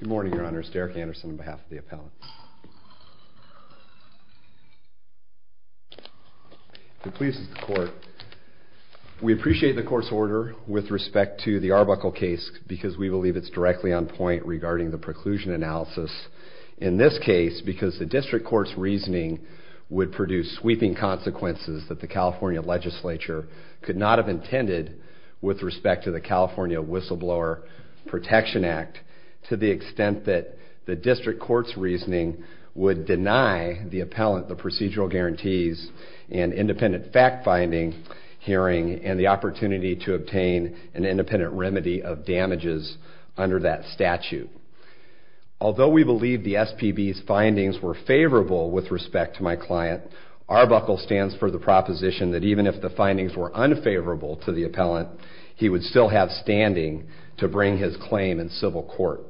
Good morning, Your Honor. It's Derek Anderson on behalf of the appellant. If it pleases the court, we appreciate the court's order with respect to the Arbuckle case because we believe it's directly on point regarding the preclusion analysis. In this case, because the district court's reasoning would produce sweeping consequences that the California legislature could not have intended with respect to the California Whistleblower Protection Act to the extent that the district court's reasoning would deny the appellant the procedural guarantees and independent fact-finding hearing and the opportunity to obtain an independent remedy of damages under that statute. Although we believe the SPB's findings were favorable with respect to my client, Arbuckle stands for the proposition that even if the findings were unfavorable to the appellant, he would still have standing to bring his claim in civil court.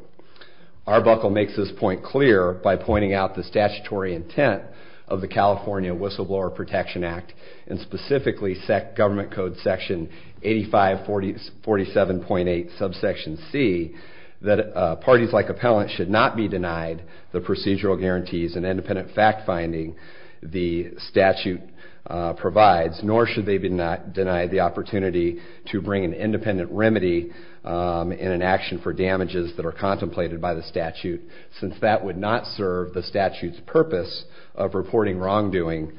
Arbuckle makes this point clear by pointing out the statutory intent of the California Whistleblower Protection Act, and specifically government code section 8547.8 subsection C, that parties like appellants should not be denied the procedural guarantees and independent fact-finding the statute provides, nor should they be denied the opportunity to bring an independent remedy and an action for damages that are contrary to the statute. Since that would not serve the statute's purpose of reporting wrongdoing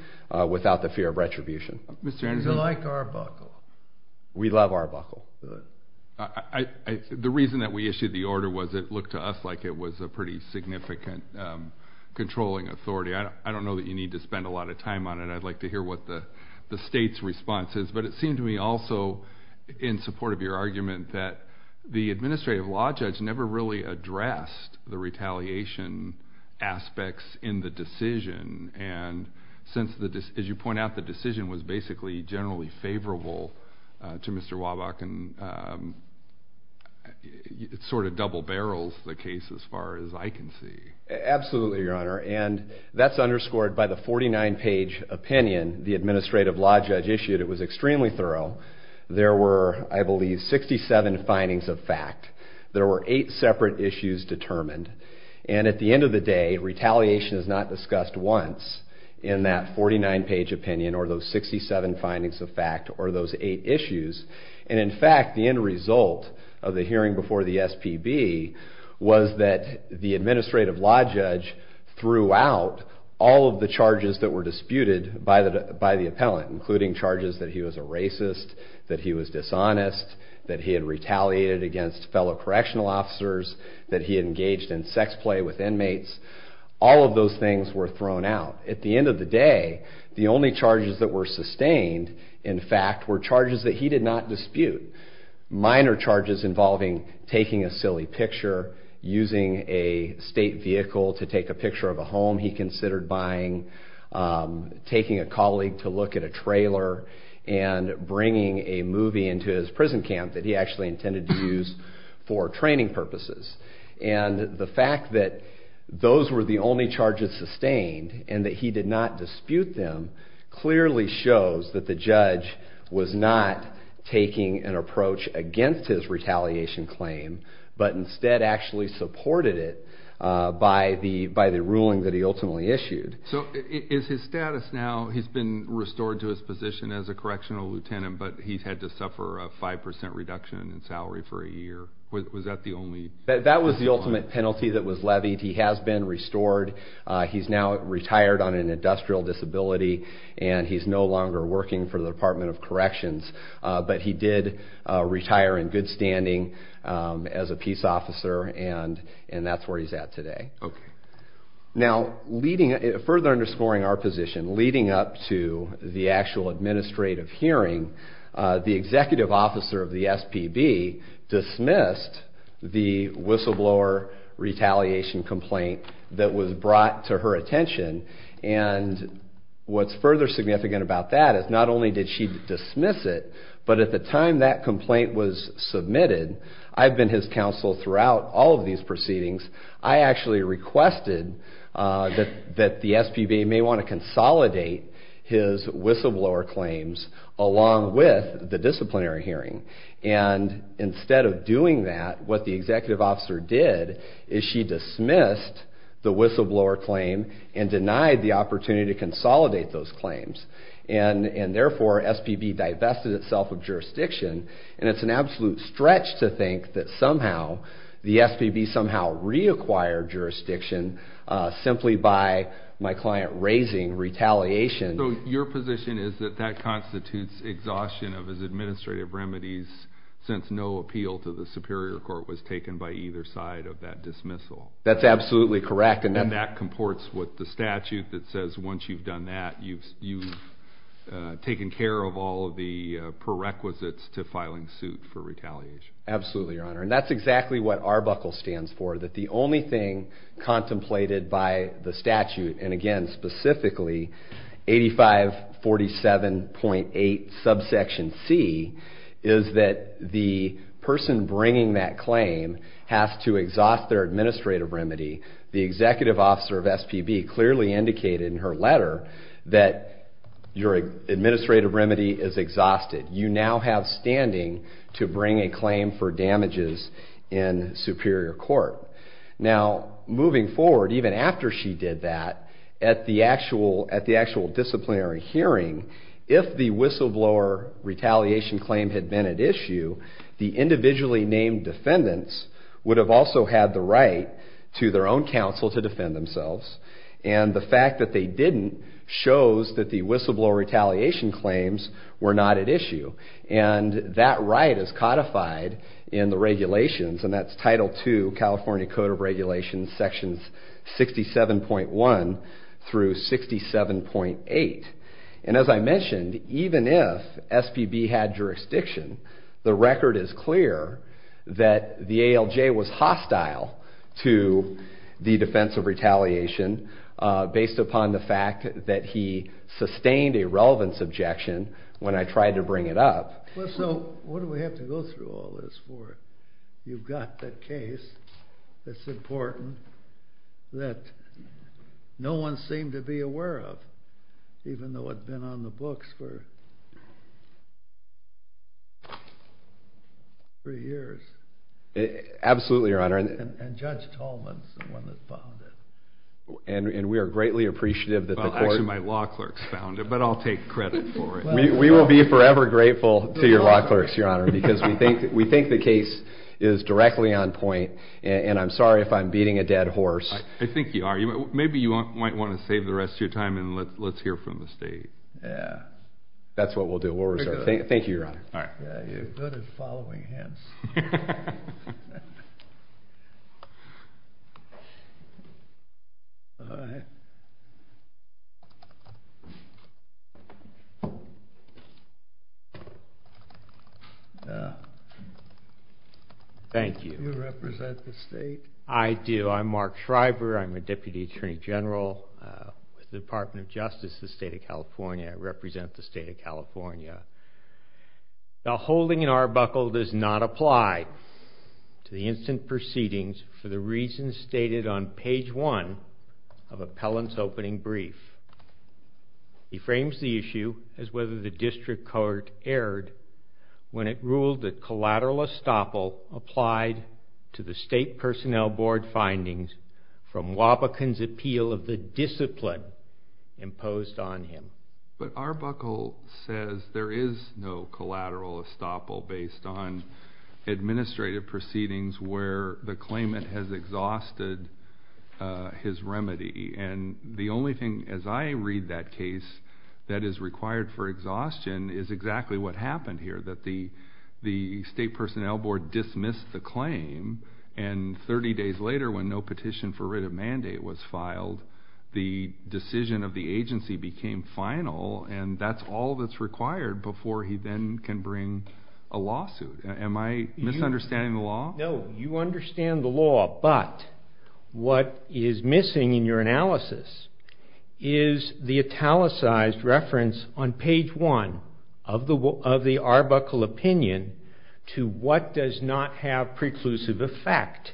without the fear of retribution. Is it like Arbuckle? We love Arbuckle. The reason that we issued the order was it looked to us like it was a pretty significant controlling authority. I don't know that you need to spend a lot of time on it. I'd like to hear what the state's response is. But it seemed to me also, in support of your argument, that the administrative law judge never really addressed the retaliation aspects in the decision. And since, as you point out, the decision was basically generally favorable to Mr. Wabach, it sort of double-barrels the case as far as I can see. Absolutely, Your Honor. And that's underscored by the 49-page opinion the administrative law judge issued. It was extremely thorough. There were, I believe, 67 findings of fact. There were eight separate issues determined. And at the end of the day, retaliation is not discussed once in that 49-page opinion or those 67 findings of fact or those eight issues. And in fact, the end result of the hearing before the SPB was that the administrative law judge threw out all of the charges that were disputed by the appellant, including charges that he was a racist, that he was dishonest, that he had retaliated against fellow correctional officers, that he engaged in sex play with inmates. All of those things were thrown out. At the end of the day, the only charges that were sustained, in fact, were charges that he did not dispute. Minor charges involving taking a silly picture, using a state vehicle to take a picture of a home he considered buying, taking a colleague to look at a trailer, and bringing a movie into his prison camp that he actually intended to use for training purposes. And the fact that those were the only charges sustained and that he did not dispute them clearly shows that the judge was not taking an approach against his retaliation claim, but instead actually supported it by the ruling that he ultimately issued. So is his status now, he's been restored to his position as a correctional lieutenant, but he's had to suffer a 5% reduction in salary for a year. That was the ultimate penalty that was levied. He has been restored. He's now retired on an industrial disability, and he's no longer working for the Department of Corrections, but he did retire in good standing as a peace officer, and that's where he's at today. Now, further underscoring our position, leading up to the actual administrative hearing, the executive officer of the SPB dismissed the whistleblower retaliation complaint that was brought to her attention. And what's further significant about that is not only did she dismiss it, but at the time that complaint was submitted, I've been his counsel throughout all of these proceedings. I actually requested that the SPB may want to consolidate his whistleblower claims along with the disciplinary hearing. And instead of doing that, what the executive officer did is she dismissed the whistleblower claim and denied the opportunity to consolidate those claims. And therefore, SPB divested itself of jurisdiction, and it's an absolute stretch to think that somehow, the SPB somehow reacquired jurisdiction simply by my client raising retaliation. So your position is that that constitutes exhaustion of his administrative remedies since no appeal to the Superior Court was taken by either side of that dismissal? That's absolutely correct. And that comports with the statute that says once you've done that, you've taken care of all of the prerequisites to filing suit for retaliation? Absolutely, Your Honor. And that's exactly what ARBUCLE stands for, that the only thing contemplated by the statute, and again specifically 8547.8 subsection C, is that the person bringing that claim has to exhaust their administrative remedy. The executive officer of SPB clearly indicated in her letter that your administrative remedy is exhausted. You now have standing to bring a claim for damages in Superior Court. Now, moving forward, even after she did that, at the actual disciplinary hearing, if the whistleblower retaliation claim had been at issue, the individually named defendants would have also had the right to their own counsel to defend themselves. And the fact that they didn't shows that the whistleblower retaliation claims were not at issue. And that right is codified in the regulations, and that's Title II California Code of Regulations sections 67.1 through 67.8. And as I mentioned, even if SPB had jurisdiction, the record is clear that the ALJ was hostile to the defense of retaliation based upon the fact that he sustained a relevance objection when I tried to bring it up. So what do we have to go through all this for? You've got the case that's important that no one seemed to be aware of, even though it's been on the books for three years. Absolutely, Your Honor. And Judge Tolman is the one that found it. And we are greatly appreciative that the court— Well, actually, my law clerks found it, but I'll take credit for it. Because we think the case is directly on point, and I'm sorry if I'm beating a dead horse. I think you are. Maybe you might want to save the rest of your time and let's hear from the state. That's what we'll do. We'll reserve it. Thank you, Your Honor. You're good at following hints. All right. Thank you. Do you represent the state? I do. I'm Mark Shriver. I'm a Deputy Attorney General with the Department of Justice of the State of California. I represent the State of California. The holding in Arbuckle does not apply to the instant proceedings for the reasons stated on page one of appellant's opening brief. He frames the issue as whether the district court erred when it ruled that collateral estoppel applied to the State Personnel Board findings from Wobbekin's appeal of the discipline imposed on him. But Arbuckle says there is no collateral estoppel based on administrative proceedings where the claimant has exhausted his remedy. And the only thing, as I read that case, that is required for exhaustion is exactly what happened here, that the State Personnel Board dismissed the claim, and 30 days later when no petition for writ of mandate was filed, the decision of the agency became final, and that's all that's required before he then can bring a lawsuit. Am I misunderstanding the law? No, you understand the law. But what is missing in your analysis is the italicized reference on page one of the Arbuckle opinion to what does not have preclusive effect.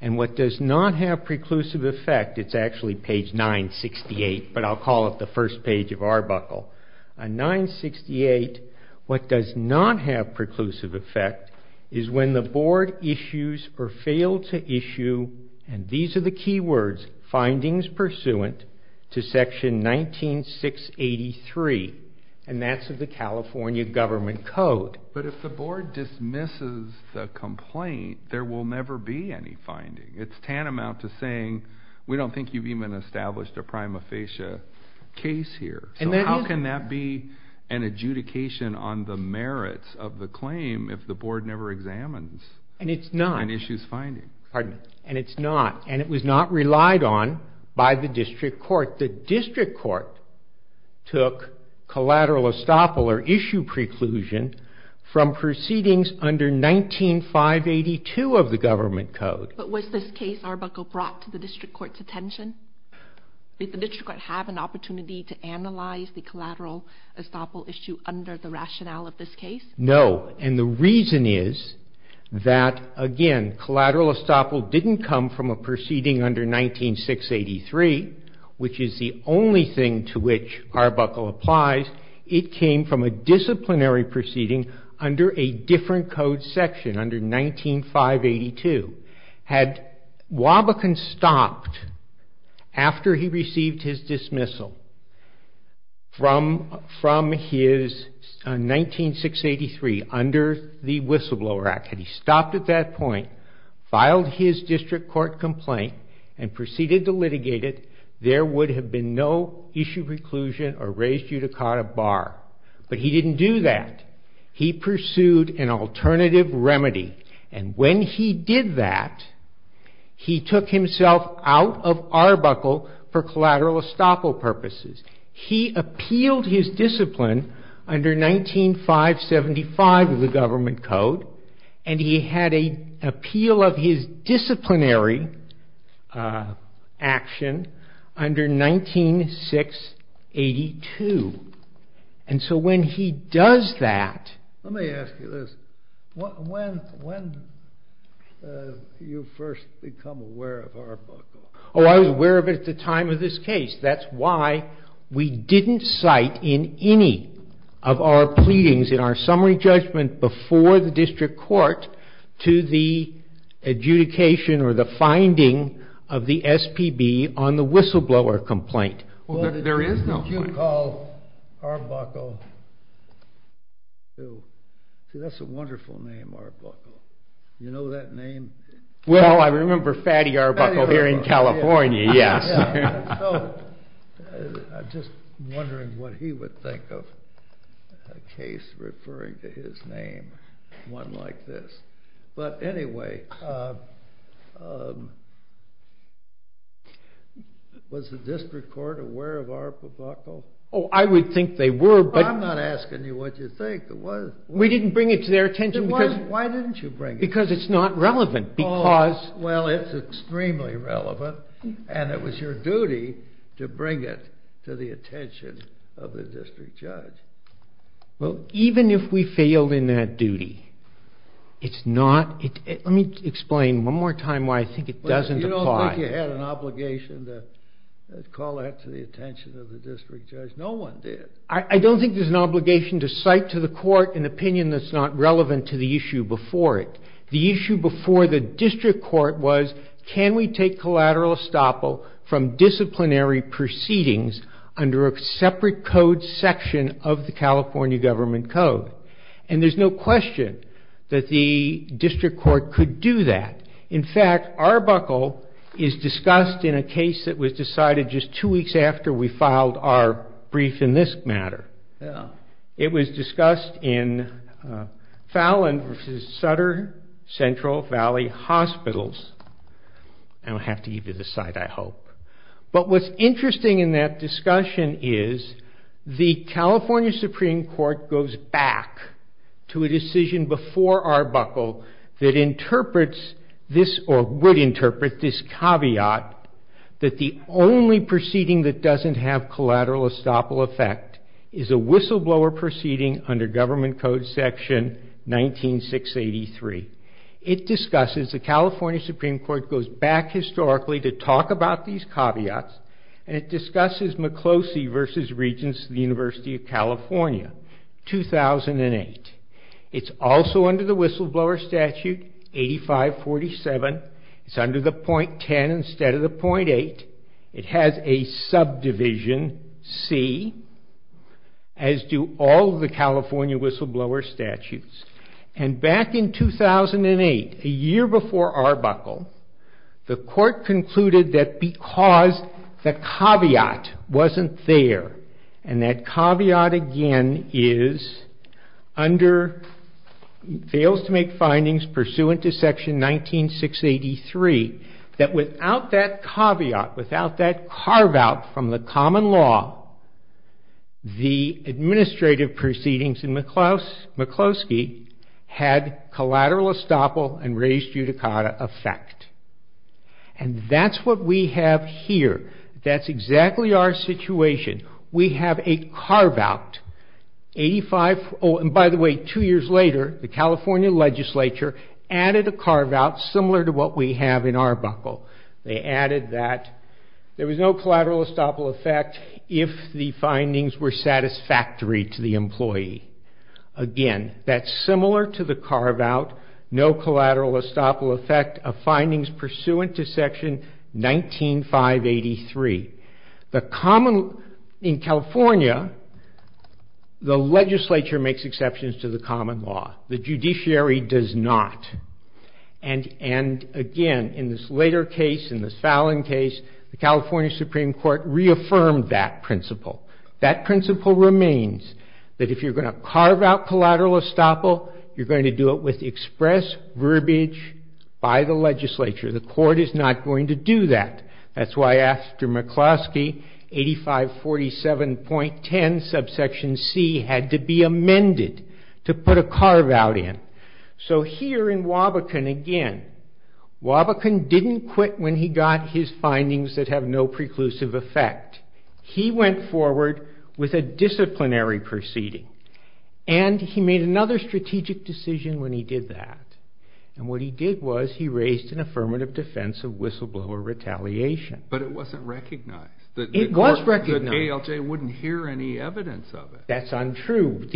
And what does not have preclusive effect, it's actually page 968, but I'll call it the first page of Arbuckle. On 968, what does not have preclusive effect is when the board issues or failed to issue, and these are the key words, findings pursuant to section 19683, and that's of the California Government Code. But if the board dismisses the complaint, there will never be any finding. It's tantamount to saying we don't think you've even established a prima facie case here. So how can that be an adjudication on the merits of the claim if the board never examines an issue's finding? And it's not, and it was not relied on by the district court. The district court took collateral estoppel or issue preclusion from proceedings under 19582 of the Government Code. But was this case Arbuckle brought to the district court's attention? Did the district court have an opportunity to analyze the collateral estoppel issue under the rationale of this case? No, and the reason is that, again, collateral estoppel didn't come from a proceeding under 19683, which is the only thing to which Arbuckle applies. It came from a disciplinary proceeding under a different code section, under 19582. Had Wabakan stopped after he received his dismissal from his 19683 under the Whistleblower Act, had he stopped at that point, filed his district court complaint, and proceeded to litigate it, there would have been no issue preclusion or raised judicata bar. But he didn't do that. He pursued an alternative remedy, and when he did that, he took himself out of Arbuckle for collateral estoppel purposes. He appealed his discipline under 19575 of the Government Code, and he had an appeal of his disciplinary action under 19682. And so when he does that... Let me ask you this. When did you first become aware of Arbuckle? Oh, I was aware of it at the time of this case. That's why we didn't cite in any of our pleadings, in our summary judgment before the district court, to the adjudication or the finding of the SPB on the whistleblower complaint. Well, there is no... You called Arbuckle... See, that's a wonderful name, Arbuckle. You know that name? Well, I remember Fatty Arbuckle here in California, yes. So I'm just wondering what he would think of a case referring to his name, one like this. But anyway, was the district court aware of Arbuckle? Oh, I would think they were, but... I'm not asking you what you think. We didn't bring it to their attention because... Why didn't you bring it? Because it's not relevant, because... Well, it's extremely relevant, and it was your duty to bring it to the attention of the district judge. Well, even if we failed in that duty, it's not... Let me explain one more time why I think it doesn't apply. You don't think you had an obligation to call that to the attention of the district judge? No one did. I don't think there's an obligation to cite to the court an opinion that's not relevant to the issue before it. The issue before the district court was, can we take collateral estoppel from disciplinary proceedings under a separate code section of the California Government Code? And there's no question that the district court could do that. In fact, Arbuckle is discussed in a case that was decided just two weeks after we filed our brief in this matter. It was discussed in Fallon v. Sutter Central Valley Hospitals. I don't have to give you the site, I hope. But what's interesting in that discussion is the California Supreme Court goes back to a decision before Arbuckle that would interpret this caveat that the only proceeding that doesn't have collateral estoppel effect is a whistleblower proceeding under Government Code section 19683. It discusses the California Supreme Court goes back historically to talk about these caveats and it discusses McCloskey v. Regents of the University of California, 2008. It's also under the whistleblower statute 8547. It's under the .10 instead of the .8. It has a subdivision, C, as do all the California whistleblower statutes. And back in 2008, a year before Arbuckle, the court concluded that because the caveat wasn't there and that caveat again fails to make findings pursuant to section 19683, that without that caveat, without that carve-out from the common law, the administrative proceedings in McCloskey had collateral estoppel and raised judicata effect. And that's what we have here. That's exactly our situation. We have a carve-out. By the way, two years later, the California legislature added a carve-out similar to what we have in Arbuckle. They added that there was no collateral estoppel effect if the findings were satisfactory to the employee. Again, that's similar to the carve-out, no collateral estoppel effect of findings pursuant to section 19583. In California, the legislature makes exceptions to the common law. The judiciary does not. And again, in this later case, in this Fallon case, the California Supreme Court reaffirmed that principle. That principle remains, that if you're going to carve-out collateral estoppel, you're going to do it with express verbiage by the legislature. The court is not going to do that. That's why after McCloskey, 8547.10 subsection C had to be amended to put a carve-out in. So here in Wabakan again, Wabakan didn't quit when he got his findings that have no preclusive effect. He went forward with a disciplinary proceeding. And he made another strategic decision when he did that. And what he did was he raised an affirmative defense of whistleblower retaliation. But it wasn't recognized. It was recognized. The ALJ wouldn't hear any evidence of it. That's untrue.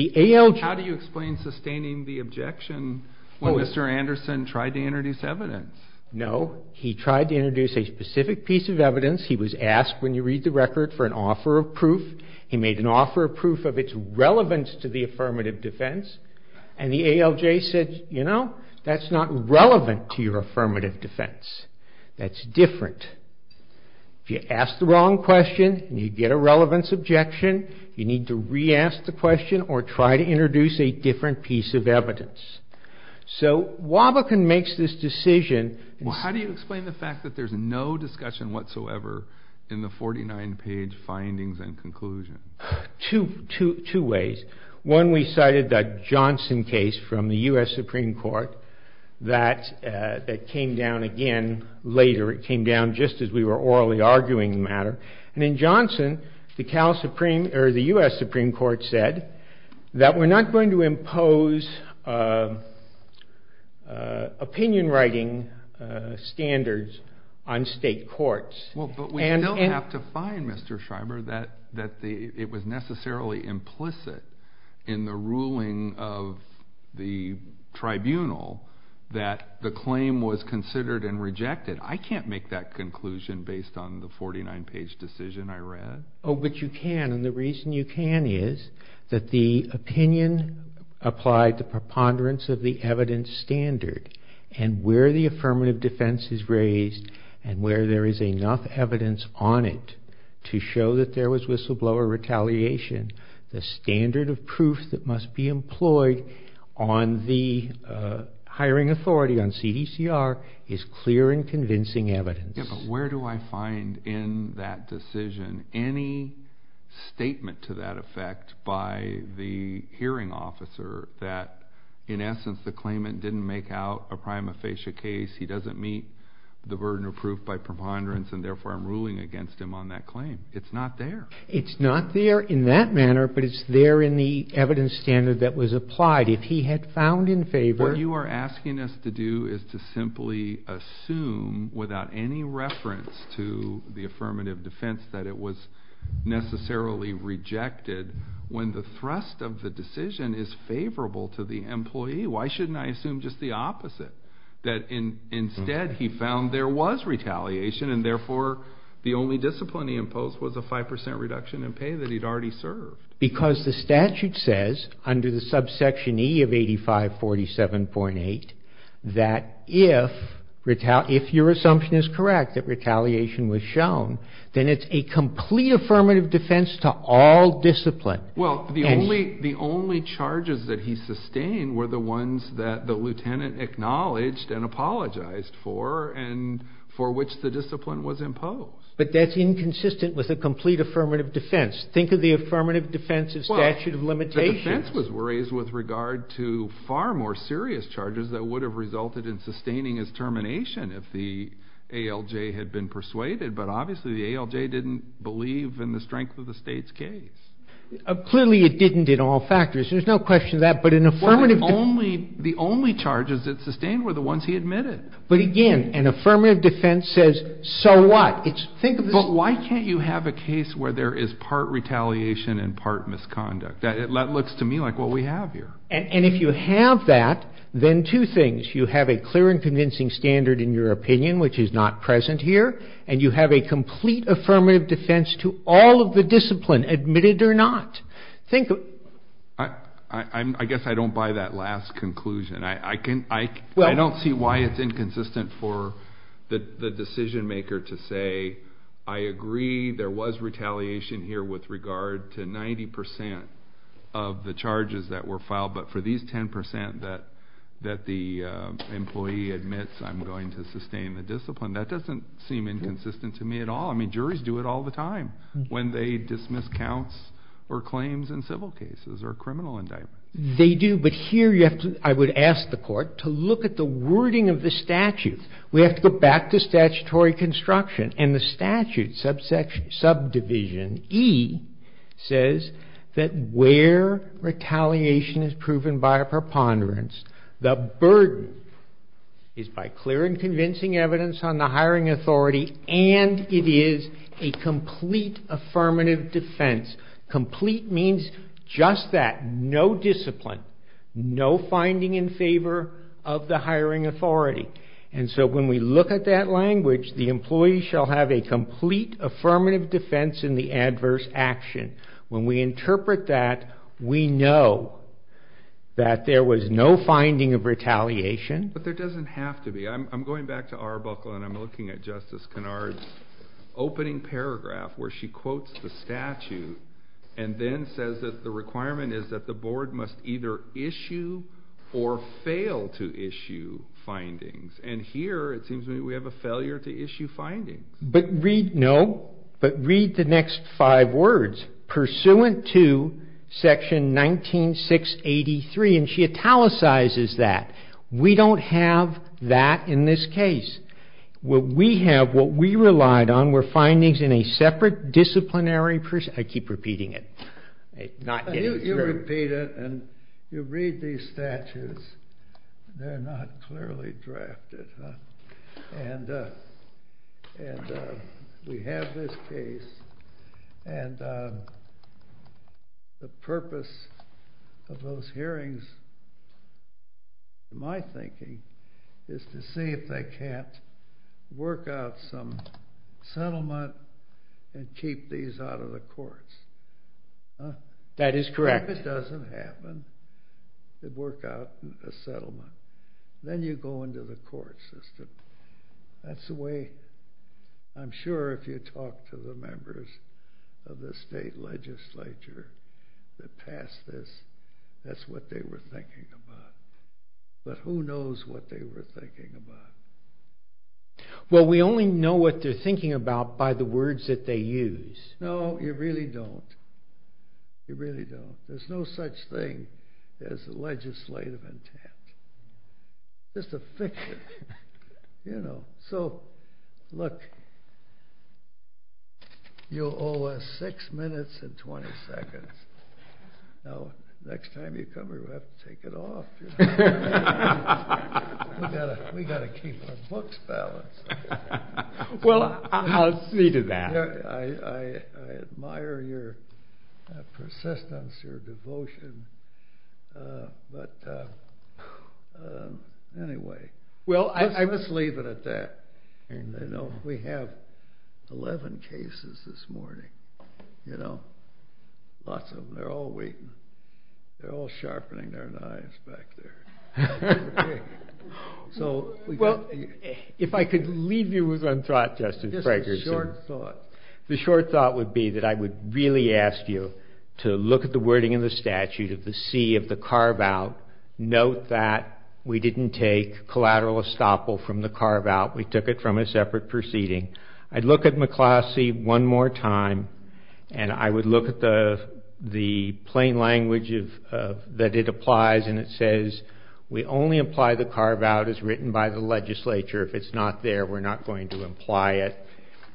How do you explain sustaining the objection when Mr. Anderson tried to introduce evidence? No. He tried to introduce a specific piece of evidence. He was asked, when you read the record, for an offer of proof. He made an offer of proof of its relevance to the affirmative defense. And the ALJ said, you know, that's not relevant to your affirmative defense. That's different. If you ask the wrong question and you get a relevance objection, you need to re-ask the question or try to introduce a different piece of evidence. So Wabakan makes this decision. Well, how do you explain the fact that there's no discussion whatsoever in the 49-page findings and conclusion? Two ways. One, we cited that Johnson case from the U.S. Supreme Court that came down again later. It came down just as we were orally arguing the matter. And in Johnson, the U.S. Supreme Court said that we're not going to impose opinion-writing standards on state courts. Well, but we don't have to find, Mr. Schreiber, that it was necessarily implicit in the ruling of the tribunal that the claim was considered and rejected. I can't make that conclusion based on the 49-page decision I read. Oh, but you can. And the reason you can is that the opinion applied to preponderance of the evidence standard and where the affirmative defense is raised and where there is enough evidence on it to show that there was whistleblower retaliation, the standard of proof that must be employed on the hiring authority, on CDCR, is clear and convincing evidence. Yeah, but where do I find in that decision any statement to that effect by the hearing officer that in essence the claimant didn't make out a prima facie case, he doesn't meet the burden of proof by preponderance, and therefore I'm ruling against him on that claim? It's not there. It's not there in that manner, but it's there in the evidence standard that was applied. If he had found in favor... What you are asking us to do is to simply assume without any reference to the affirmative defense that it was necessarily rejected when the thrust of the decision is favorable to the employee. Why shouldn't I assume just the opposite, that instead he found there was retaliation and therefore the only discipline he imposed was a 5% reduction in pay that he'd already served? Because the statute says under the subsection E of 8547.8 that if your assumption is correct that retaliation was shown, then it's a complete affirmative defense to all discipline. Well, the only charges that he sustained were the ones that the lieutenant acknowledged and apologized for and for which the discipline was imposed. But that's inconsistent with a complete affirmative defense. Think of the affirmative defense of statute of limitations. The defense was raised with regard to far more serious charges that would have resulted in sustaining his termination if the ALJ had been persuaded, but obviously the ALJ didn't believe in the strength of the state's case. Clearly it didn't in all factors. There's no question of that, but an affirmative defense... The only charges it sustained were the ones he admitted. But again, an affirmative defense says, so what? But why can't you have a case where there is part retaliation and part misconduct? That looks to me like what we have here. And if you have that, then two things. You have a clear and convincing standard in your opinion, which is not present here, and you have a complete affirmative defense to all of the discipline, admitted or not. I guess I don't buy that last conclusion. I don't see why it's inconsistent for the decision maker to say, I agree there was retaliation here with regard to 90% of the charges that were filed, but for these 10% that the employee admits I'm going to sustain the discipline, that doesn't seem inconsistent to me at all. I mean, juries do it all the time when they dismiss counts or claims in civil cases or criminal indictments. They do, but here I would ask the court to look at the wording of the statute. We have to go back to statutory construction, and the statute, subdivision E, says that where retaliation is proven by a preponderance, the burden is by clear and convincing evidence on the hiring authority, and it is a complete affirmative defense. Complete means just that, no discipline, no finding in favor of the hiring authority. And so when we look at that language, the employee shall have a complete affirmative defense in the adverse action. When we interpret that, we know that there was no finding of retaliation. But there doesn't have to be. I'm going back to Arbuckle, and I'm looking at Justice Kennard's opening paragraph where she quotes the statute and then says that the requirement is that the board must either issue or fail to issue findings. And here it seems to me we have a failure to issue findings. No, but read the next five words, pursuant to Section 19683, and she italicizes that. We don't have that in this case. What we have, what we relied on were findings in a separate disciplinary person. I keep repeating it. You repeat it, and you read these statutes. They're not clearly drafted. And we have this case, and the purpose of those hearings, in my thinking, is to see if they can't work out some settlement and keep these out of the courts. That is correct. If it doesn't happen, they work out a settlement. Then you go into the court system. That's the way I'm sure if you talk to the members of the state legislature that passed this, that's what they were thinking about. But who knows what they were thinking about. Well, we only know what they're thinking about by the words that they use. No, you really don't. You really don't. There's no such thing as a legislative intent. It's a fiction. So, look, you'll owe us six minutes and 20 seconds. Now, next time you come here, we'll have to take it off. We've got to keep our books balanced. Well, I'll see to that. I admire your persistence, your devotion. But anyway, let's leave it at that. We have 11 cases this morning. Lots of them. They're all waiting. They're all sharpening their knives back there. Well, if I could leave you with one thought, Justice Fragerson. Just a short thought. The short thought would be that I would really ask you to look at the wording in the statute of the C of the carve-out. Note that we didn't take collateral estoppel from the carve-out. We took it from a separate proceeding. I'd look at McCloskey one more time, and I would look at the plain language that it applies, and it says we only apply the carve-out as written by the legislature. If it's not there, we're not going to imply it.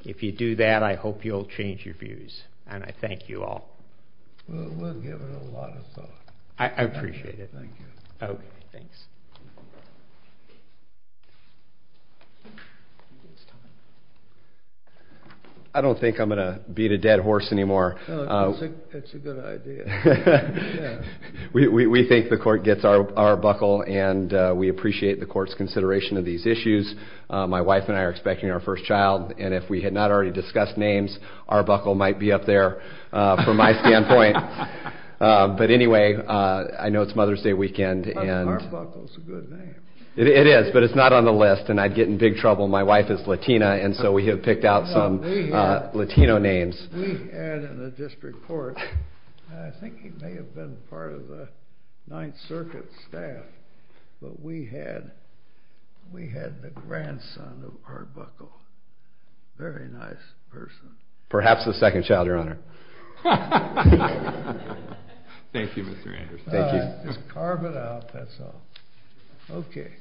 If you do that, I hope you'll change your views. And I thank you all. We'll give it a lot of thought. I appreciate it. Thank you. Okay, thanks. I don't think I'm going to beat a dead horse anymore. That's a good idea. We think the court gets our buckle, and we appreciate the court's consideration of these issues. My wife and I are expecting our first child, and if we had not already discussed names, our buckle might be up there from my standpoint. But anyway, I know it's Mother's Day weekend. Our buckle's a good name. It is, but it's not on the list, and I'd get in big trouble. My wife is Latina, and so we have picked out some Latino names. We had in the district court, and I think he may have been part of the Ninth Circuit staff, but we had the grandson of our buckle. Very nice person. Perhaps the second child, Your Honor. Thank you, Mr. Anderson. Just carve it out, that's all. Okay.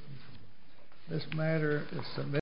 This matter is submitted.